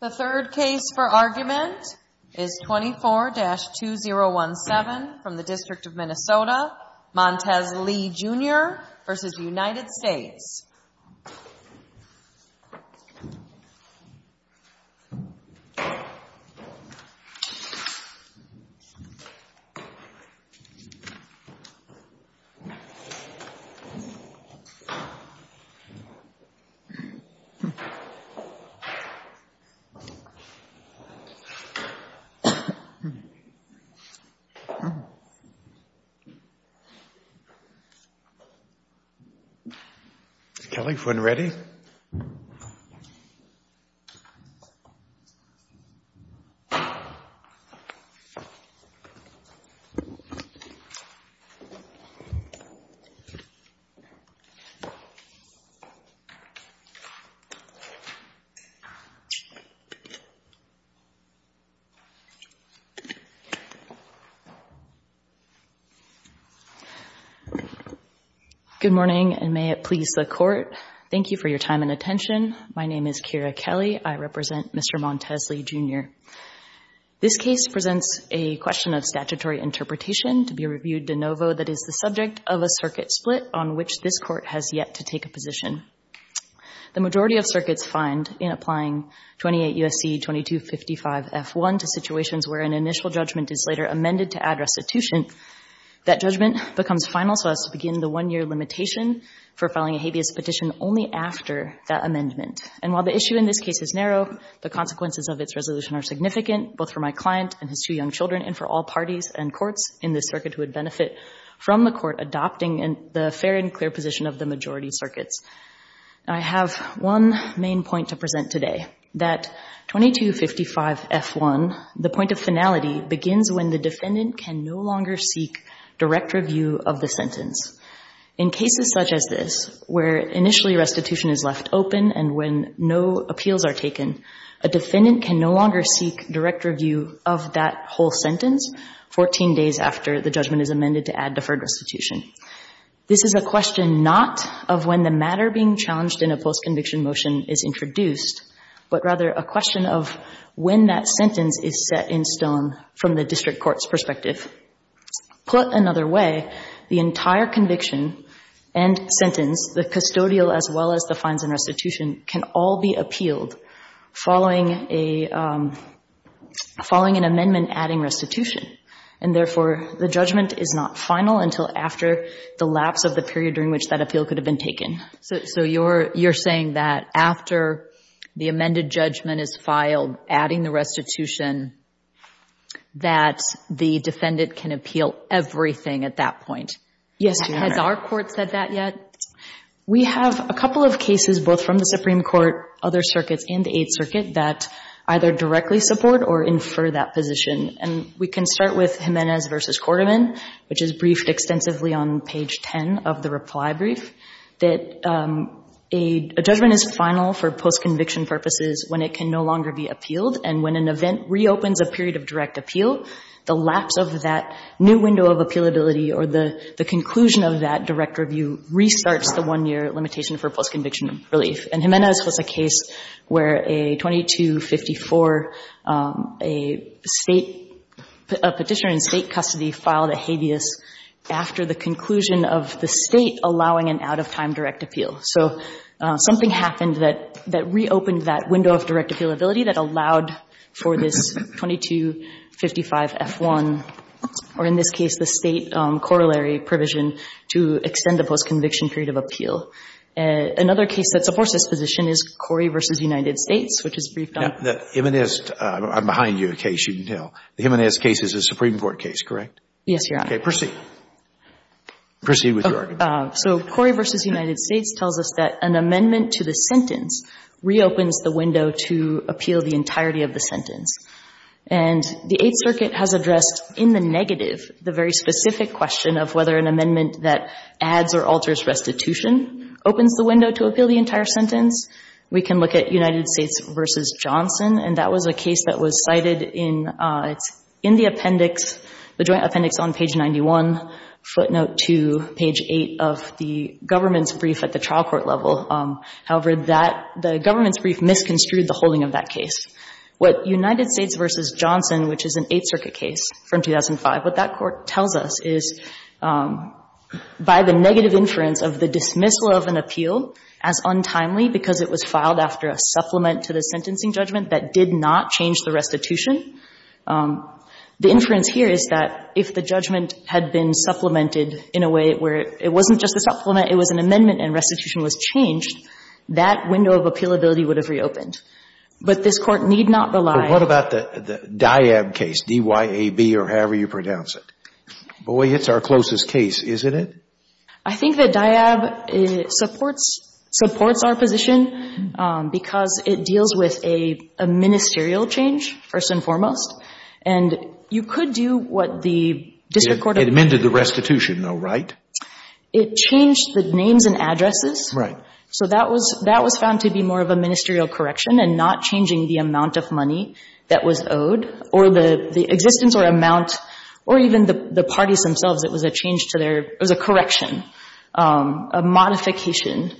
The third case for argument is 24-2017 from the District of Minnesota, Montez Lee, Jr. v. United States. Kelly, if we're not ready. Good morning, and may it please the Court. Thank you for your time and attention. My name is Keira Kelly. I represent Mr. Montez Lee, Jr. This case presents a question of statutory interpretation to be reviewed de novo that is the subject of a circuit split on which this Court has yet to take a position. The majority of circuits find, in applying 28 U.S.C. 2255-F1 to situations where an initial judgment is later amended to add restitution, that judgment becomes final so as to begin the one-year limitation for filing a habeas petition only after that amendment. And while the issue in this case is narrow, the consequences of its resolution are significant, both for my client and his two young children and for all parties and courts in this circuit who would benefit from the Court adopting the fair and clear position of the majority circuits. I have one main point to present today, that 2255-F1, the point of finality, begins when the defendant can no longer seek direct review of the sentence. In cases such as this, where initially restitution is left open and when no appeals are taken, a defendant can no longer seek direct review of that whole sentence 14 days after the judgment is amended to add deferred restitution. This is a question not of when the matter being challenged in a postconviction motion is introduced, but rather a question of when that sentence is set in stone from the district court's perspective. Put another way, the entire conviction and sentence, the custodial as well as the fines and restitution, can all be appealed following a — following an amendment adding restitution. And therefore, the judgment is not final until after the lapse of the period during which that appeal could have been taken. So you're saying that after the amended judgment is filed, adding the restitution, that the defendant can appeal everything at that point? Yes, Your Honor. Has our court said that yet? We have a couple of cases, both from the Supreme Court, other circuits, and the Eighth Circuit, that either directly support or infer that position. And we can start with Jimenez v. Quarterman, which is briefed extensively on page 10 of the reply brief, that a judgment is final for postconviction purposes when it can no longer be appealed. And when an event reopens a period of direct appeal, the lapse of that new window of appealability or the conclusion of that direct review restarts the one-year limitation for postconviction relief. And Jimenez was a case where a 2254, a State — a petitioner in State custody filed a habeas after the conclusion of the State allowing an out-of-time direct appeal. So something happened that reopened that window of direct appealability that allowed for this 2255F1, or in this case the State corollary provision, to extend the postconviction period of appeal. Another case that supports this position is Corey v. United States, which is briefed on — The Jimenez — I'm behind you, a case, you can tell. The Jimenez case is a Supreme Court case, correct? Yes, Your Honor. Okay. Proceed. Proceed with your argument. So Corey v. United States tells us that an amendment to the sentence reopens the window to appeal the entirety of the sentence. And the Eighth Circuit has addressed in the negative the very specific question of whether an amendment that adds or alters restitution opens the window to appeal the entire sentence. We can look at United States v. Johnson, and that was a case that was cited in — it's in the appendix, the joint appendix on page 91, footnote 2, page 8 of the government's brief at the trial court level. However, that — the government's brief misconstrued the holding of that case. What United States v. Johnson, which is an Eighth Circuit case from 2005, what that court tells us is by the negative inference of the dismissal of an appeal as untimely because it was filed after a supplement to the sentencing judgment that did not change the restitution, the inference here is that if the judgment had been supplemented in a way where it wasn't just a supplement, it was an amendment and restitution was changed, that window of appealability would have reopened. But this Court need not rely — or however you pronounce it. Boy, it's our closest case, isn't it? I think that DIAB supports — supports our position because it deals with a ministerial change, first and foremost, and you could do what the district court — It amended the restitution, though, right? It changed the names and addresses. Right. So that was — that was found to be more of a ministerial correction and not changing the amount of money that was owed or the existence or amount or even the parties themselves. It was a change to their — it was a correction, a modification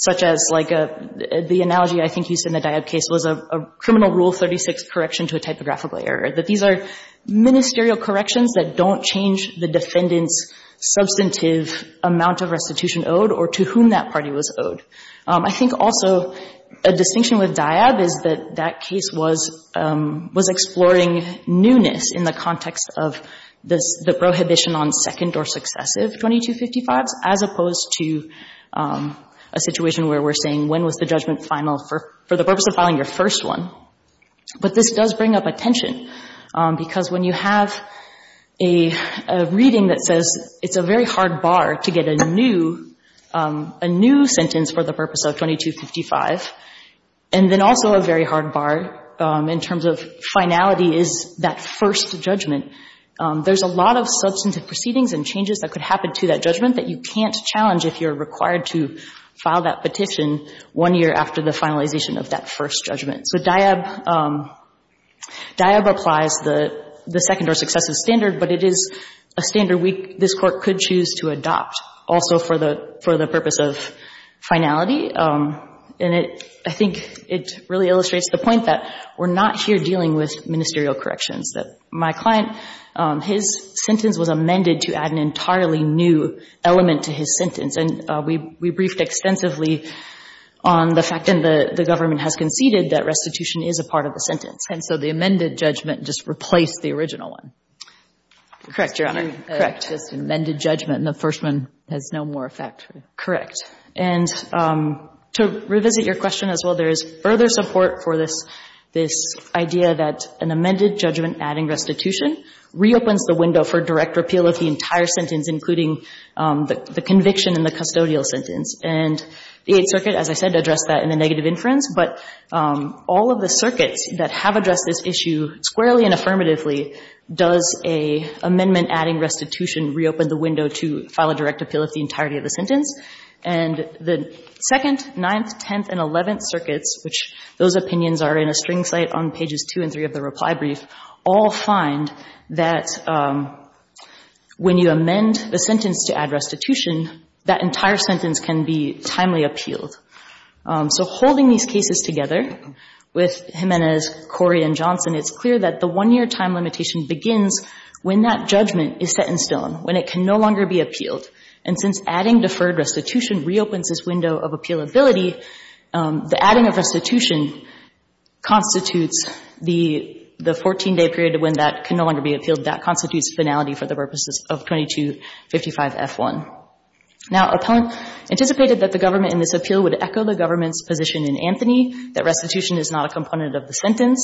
such as, like, the analogy I think used in the DIAB case was a criminal rule 36 correction to a typographical error, that these are ministerial corrections that don't change the defendant's substantive amount of restitution owed or to whom that party was owed. I think also a distinction with DIAB is that that case was — was exploring newness in the context of this — the prohibition on second or successive 2255s as opposed to a situation where we're saying when was the judgment final for — for the purpose of filing your first one. But this does bring up a tension because when you have a — a reading that says it's a very hard bar to get a new — a new sentence for the purpose of 2255, and then also a very hard bar in terms of finality is that first judgment, there's a lot of substantive proceedings and changes that could happen to that judgment that you can't challenge if you're required to file that petition one year after the finalization of that first judgment. So DIAB — DIAB applies the second or successive standard, but it is a standard we — this Court could choose to adopt also for the — for the purpose of finality. And it — I think it really illustrates the point that we're not here dealing with ministerial corrections, that my client, his sentence was amended to add an entirely new element to his sentence. And we — we briefed extensively on the fact — and the government has conceded that restitution is a part of the sentence. And so the amended judgment just replaced the original one. Correct, Your Honor. Correct. Just amended judgment, and the first one has no more effect. Correct. And to revisit your question as well, there is further support for this — this idea that an amended judgment adding restitution reopens the window for direct repeal of the entire sentence, including the conviction and the custodial sentence. And the Eighth Circuit, as I said, addressed that in the negative inference. But all of the circuits that have addressed this issue squarely and affirmatively does a amendment adding restitution reopen the window to file a direct repeal of the entirety of the sentence? And the Second, Ninth, Tenth, and Eleventh Circuits, which those opinions are in a string slate on pages two and three of the reply brief, all find that when you amend the sentence to add restitution, that entire sentence can be timely appealed. So holding these cases together with Jimenez, Corey, and Johnson, it's clear that the one-year time limitation begins when that judgment is set in stone, when it can no longer be appealed. And since adding deferred restitution reopens this window of appealability, the adding of restitution constitutes the 14-day period when that can no longer be appealed. That constitutes finality for the purposes of 2255F1. Now, appellant anticipated that the government in this appeal would echo the government's position in Anthony, that restitution is not a component of the sentence.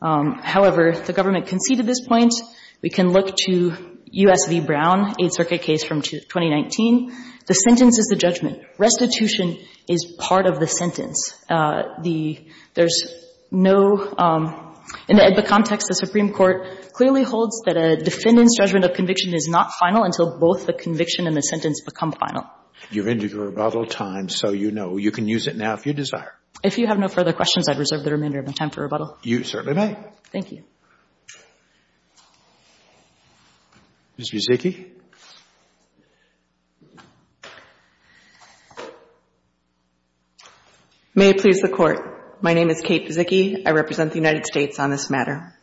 However, the government conceded this point. We can look to U.S. v. Brown, Eighth Circuit case from 2019. The sentence is the judgment. Restitution is part of the sentence. The — there's no — in the AEDPA context, the Supreme Court clearly holds that a defendant's judgment of conviction is not final until both the conviction and the sentence become final. You're into your rebuttal time, so you know. You can use it now if you desire. If you have no further questions, I'd reserve the remainder of my time for rebuttal. You certainly may. Thank you. Ms. Buzicki. May it please the Court. My name is Kate Buzicki. I represent the United States on this matter.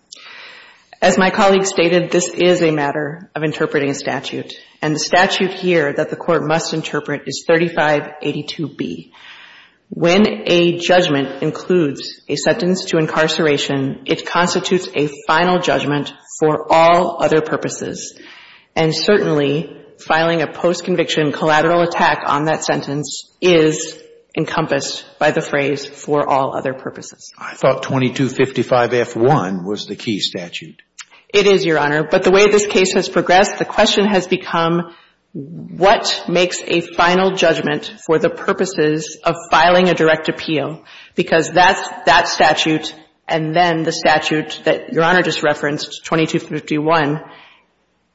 As my colleague stated, this is a matter of interpreting a statute. And the statute here that the Court must interpret is 3582B. When a judgment includes a sentence to incarceration, it constitutes a final judgment for all other purposes. And certainly, filing a post-conviction collateral attack on that sentence is encompassed by the phrase, for all other purposes. I thought 2255F1 was the key statute. It is, Your Honor. But the way this case has progressed, the question has become, what makes a final judgment for the purposes of filing a direct appeal? Because that's — that statute and then the statute that Your Honor just referenced, 2251,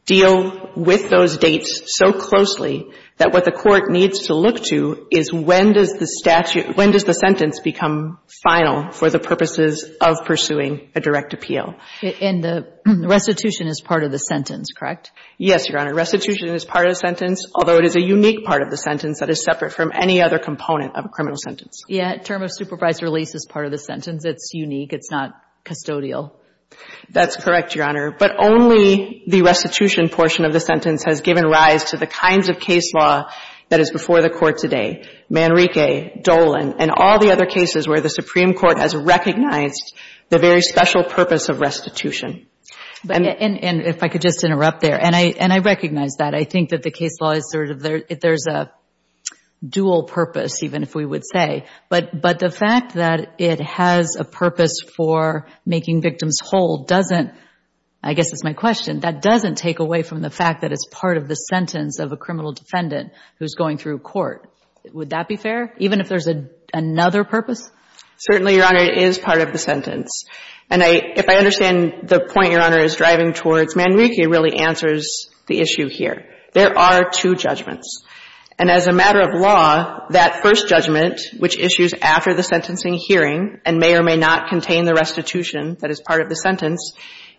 deal with those dates so closely that what the Court needs to look to is when does the statute — when does the sentence become final for the purposes of pursuing a direct appeal? And the restitution is part of the sentence, correct? Yes, Your Honor. Restitution is part of the sentence, although it is a unique part of the sentence that is separate from any other component of a criminal sentence. Yeah. Term of supervised release is part of the sentence. It's unique. It's not custodial. That's correct, Your Honor. But only the restitution portion of the sentence has given rise to the kinds of case law that is before the Court today, Manrique, Dolan, and all the other cases where the Supreme Court has recognized the very special purpose of restitution. And if I could just interrupt there. And I recognize that. I think that the case law is sort of — there's a dual purpose, even if we would say. But the fact that it has a purpose for making victims whole doesn't — I guess that's my question — that doesn't take away from the fact that it's part of the sentence of a criminal defendant who's going through court. Would that be fair, even if there's another purpose? Certainly, Your Honor, it is part of the sentence. And if I understand the point Your Honor is driving towards, Manrique really answers the issue here. There are two judgments. And as a matter of law, that first judgment, which issues after the sentencing hearing and may or may not contain the restitution that is part of the sentence,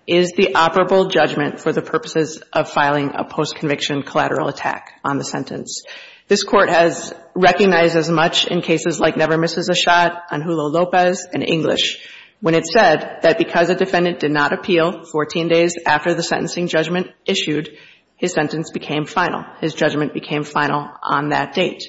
is the operable judgment for the purposes of filing a post-conviction collateral attack on the sentence. This Court has recognized as much in cases like Never Misses a Shot, Anjulo Lopez, and English, when it said that because a defendant did not appeal 14 days after the sentencing judgment issued, his sentence became final. His judgment became final on that date.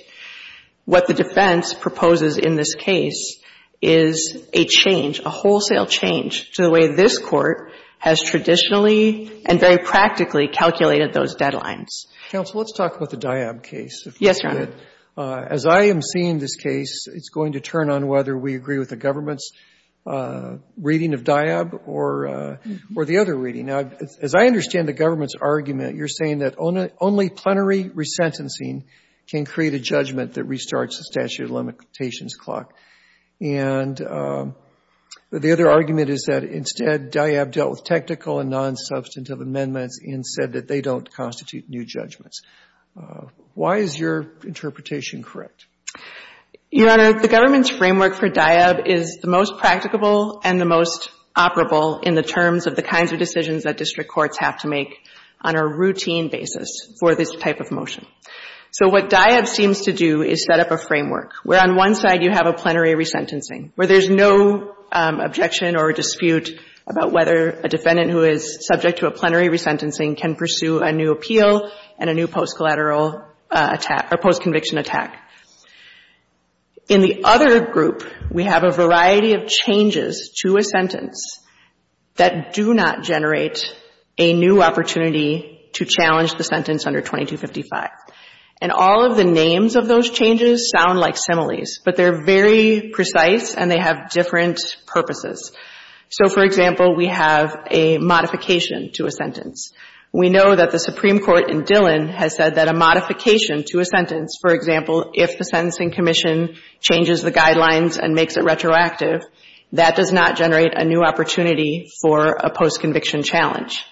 What the defense proposes in this case is a change, a wholesale change to the way this Court has traditionally and very practically calculated those deadlines. Counsel, let's talk about the Diab case. Yes, Your Honor. As I am seeing this case, it's going to turn on whether we agree with the government's reading of Diab or the other reading. Now, as I understand the government's argument, you're saying that only plenary resentencing can create a judgment that restarts the statute of limitations clock. And the other argument is that instead, Diab dealt with technical and nonsubstantive amendments and said that they don't constitute new judgments. Why is your interpretation correct? Your Honor, the government's framework for Diab is the most practicable and the most consistent approach that district courts have to make on a routine basis for this type of motion. So what Diab seems to do is set up a framework where on one side you have a plenary resentencing, where there's no objection or dispute about whether a defendant who is subject to a plenary resentencing can pursue a new appeal and a new post-collateral attack or post-conviction attack. In the other group, we have a variety of changes to a sentence that do not generate a new opportunity to challenge the sentence under 2255. And all of the names of those changes sound like similes, but they're very precise and they have different purposes. So, for example, we have a modification to a sentence. We know that the Supreme Court in Dillon has said that a modification to a sentence, for example, if the sentencing commission changes the guidelines and makes it retroactive, that does not generate a new opportunity for a post-conviction challenge.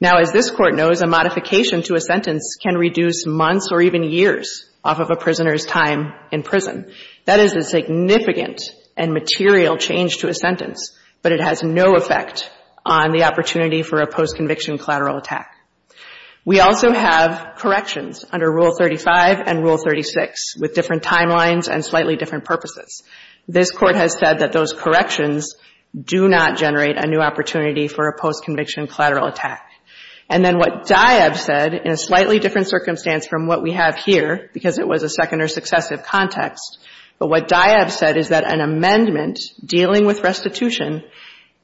Now, as this Court knows, a modification to a sentence can reduce months or even years off of a prisoner's time in prison. That is a significant and material change to a sentence, but it has no effect on the opportunity for a post-conviction collateral attack. We also have corrections under Rule 35 and Rule 36 with different timelines and slightly different purposes. This Court has said that those corrections do not generate a new opportunity for a post-conviction collateral attack. And then what DIAB said in a slightly different circumstance from what we have here because it was a second or successive context, but what DIAB said is that an amendment dealing with restitution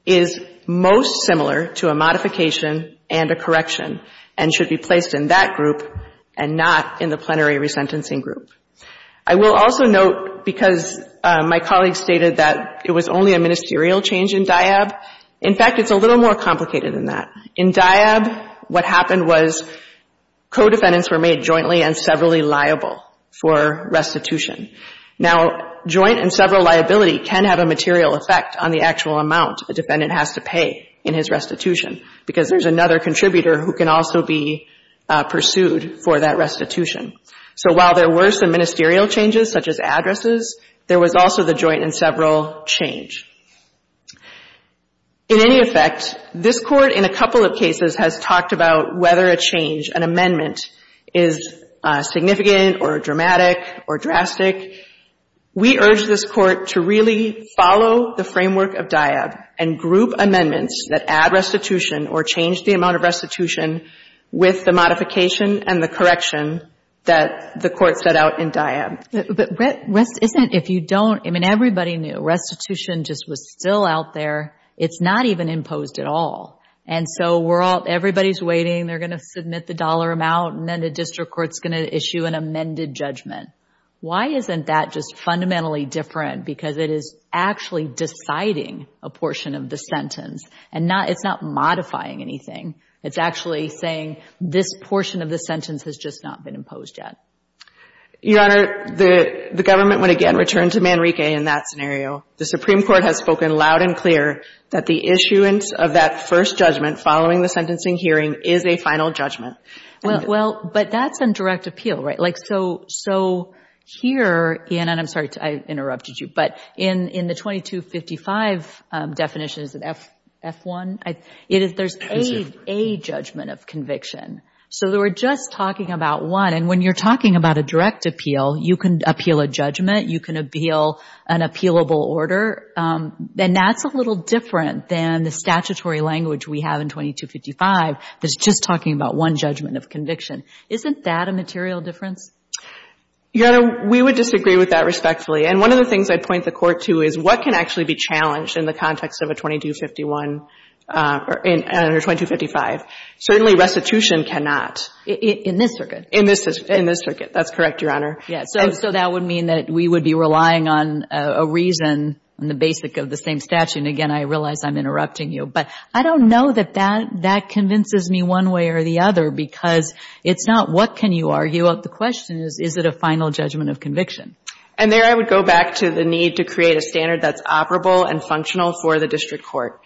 is most similar to a modification and a correction. And should be placed in that group and not in the plenary resentencing group. I will also note, because my colleague stated that it was only a ministerial change in DIAB, in fact, it's a little more complicated than that. In DIAB, what happened was co-defendants were made jointly and severally liable for restitution. Now, joint and several liability can have a material effect on the actual amount a defendant has to pay in his restitution because there's another contributor who can also be pursued for that restitution. So while there were some ministerial changes, such as addresses, there was also the joint and several change. In any effect, this Court in a couple of cases has talked about whether a change, an amendment, is significant or dramatic or drastic. We urge this Court to really follow the framework of DIAB and group amendments that add restitution or change the amount of restitution with the modification and the correction that the Court set out in DIAB. But isn't, if you don't, I mean, everybody knew restitution just was still out there. It's not even imposed at all. And so we're all, everybody's waiting, they're going to submit the dollar amount and then the district court's going to issue an amended judgment. Why isn't that just fundamentally different? Because it is actually deciding a portion of the sentence. And it's not modifying anything. It's actually saying this portion of the sentence has just not been imposed yet. Your Honor, the government would again return to Manrique in that scenario. The Supreme Court has spoken loud and clear that the issuance of that first judgment following the sentencing hearing is a final judgment. Well, but that's a direct appeal, right? So here, and I'm sorry I interrupted you, but in the 2255 definition, is it F1? There's a judgment of conviction. So we're just talking about one. And when you're talking about a direct appeal, you can appeal a judgment, you can appeal an appealable order. And that's a little different than the statutory language we have in 2255 that's just talking about one judgment of conviction. Isn't that a material difference? Your Honor, we would disagree with that respectfully. And one of the things I'd point the Court to is what can actually be challenged in the context of a 2251 or 2255? Certainly restitution cannot. In this circuit? In this circuit. That's correct, Your Honor. Yes. So that would mean that we would be relying on a reason on the basic of the same statute. And again, I realize I'm interrupting you. But I don't know that that convinces me one way or the other because it's not what can you argue. The question is, is it a final judgment of conviction? And there I would go back to the need to create a standard that's operable and functional for the district court.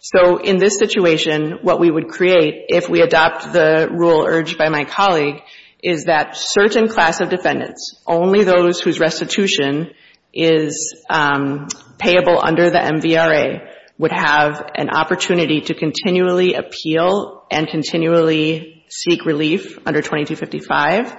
So in this situation, what we would create if we adopt the rule urged by my colleague is that certain class of defendants, only those whose restitution is payable under the MVRA, would have an opportunity to continually appeal and continually seek relief under 2255,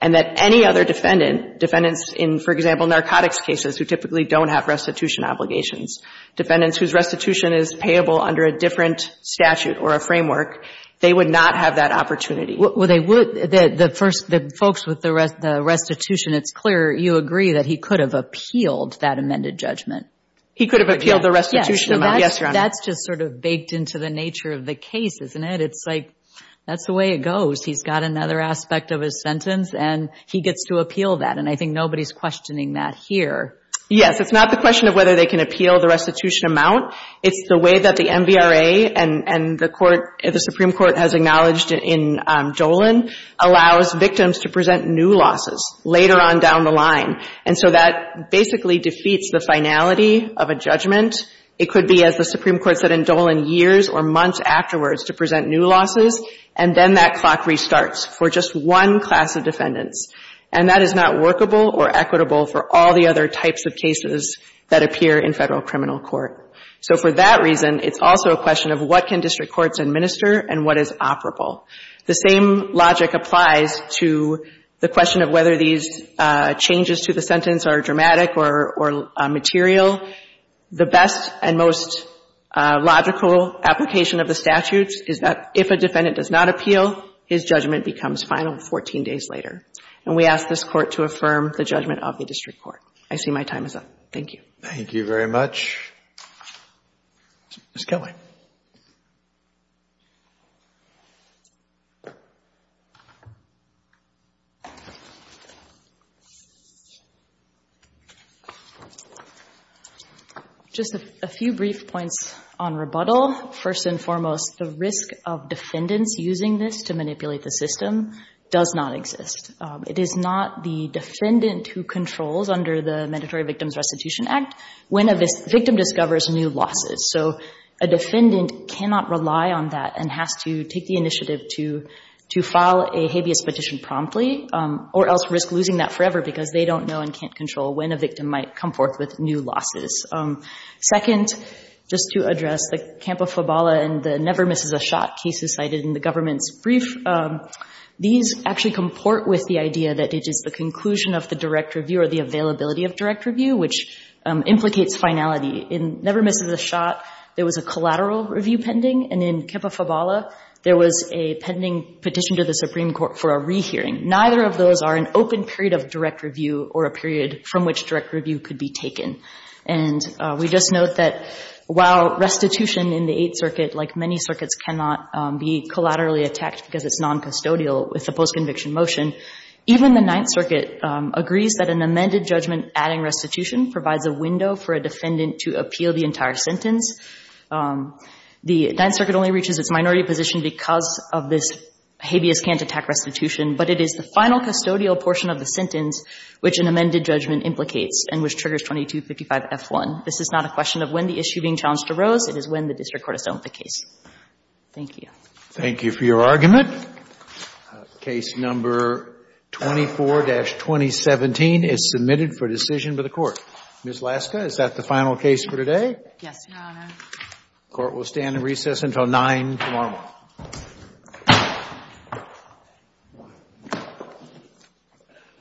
and that any other defendant, defendants in, for example, narcotics cases who typically don't have restitution obligations, defendants whose restitution is payable under a different statute or a framework, they would not have that opportunity. Well, they would. The first, the folks with the restitution, it's clear you agree that he could have appealed that amended judgment. He could have appealed the restitution amount. Yes, Your Honor. That's just sort of baked into the nature of the case, isn't it? It's like that's the way it goes. He's got another aspect of his sentence, and he gets to appeal that. And I think nobody's questioning that here. Yes. It's not the question of whether they can appeal the restitution amount. It's the way that the MVRA and the Supreme Court has acknowledged in Jolin allows victims to present new losses later on down the line. And so that basically defeats the finality of a judgment. It could be, as the Supreme Court said in Jolin, years or months afterwards to present new losses, and then that clock restarts for just one class of defendants. And that is not workable or equitable for all the other types of cases that appear in federal criminal court. So for that reason, it's also a question of what can district courts administer and what is operable. The same logic applies to the question of whether these changes to the sentence are dramatic or material. The best and most logical application of the statute is that if a defendant does not appeal, his judgment becomes final 14 days later. And we ask this Court to affirm the judgment of the district court. I see my time is up. Thank you. Thank you very much. Ms. Kilway. Just a few brief points on rebuttal. First and foremost, the risk of defendants using this to manipulate the system does not exist. It is not the defendant who controls under the Mandatory Victims Restitution Act when a victim discovers new losses. So a defendant is not the defendant who controls under the Mandatory Victims So a defendant cannot rely on that and has to take the initiative to file a habeas petition promptly or else risk losing that forever because they don't know and can't control when a victim might come forth with new losses. Second, just to address the Campa-Fabala and the never misses a shot cases cited in the government's brief, these actually comport with the idea that it is the conclusion of the direct review or the availability of direct review, which implicates finality. In never misses a shot, there was a collateral review pending. And in Campa-Fabala, there was a pending petition to the Supreme Court for a rehearing. Neither of those are an open period of direct review or a period from which direct review could be taken. And we just note that while restitution in the Eighth Circuit, like many circuits, cannot be collaterally attacked because it's noncustodial with the postconviction motion, even the Ninth Circuit agrees that an amended judgment adding restitution provides a window for a defendant to appeal the entire sentence. The Ninth Circuit only reaches its minority position because of this habeas can't attack restitution, but it is the final custodial portion of the sentence which an amended judgment implicates and which triggers 2255F1. This is not a question of when the issue being challenged arose. It is when the district court has dealt with the case. Thank you. Thank you for your argument. The case number 24-2017 is submitted for decision by the Court. Ms. Laska, is that the final case for today? Yes, Your Honor. The Court will stand in recess until 9 tomorrow morning.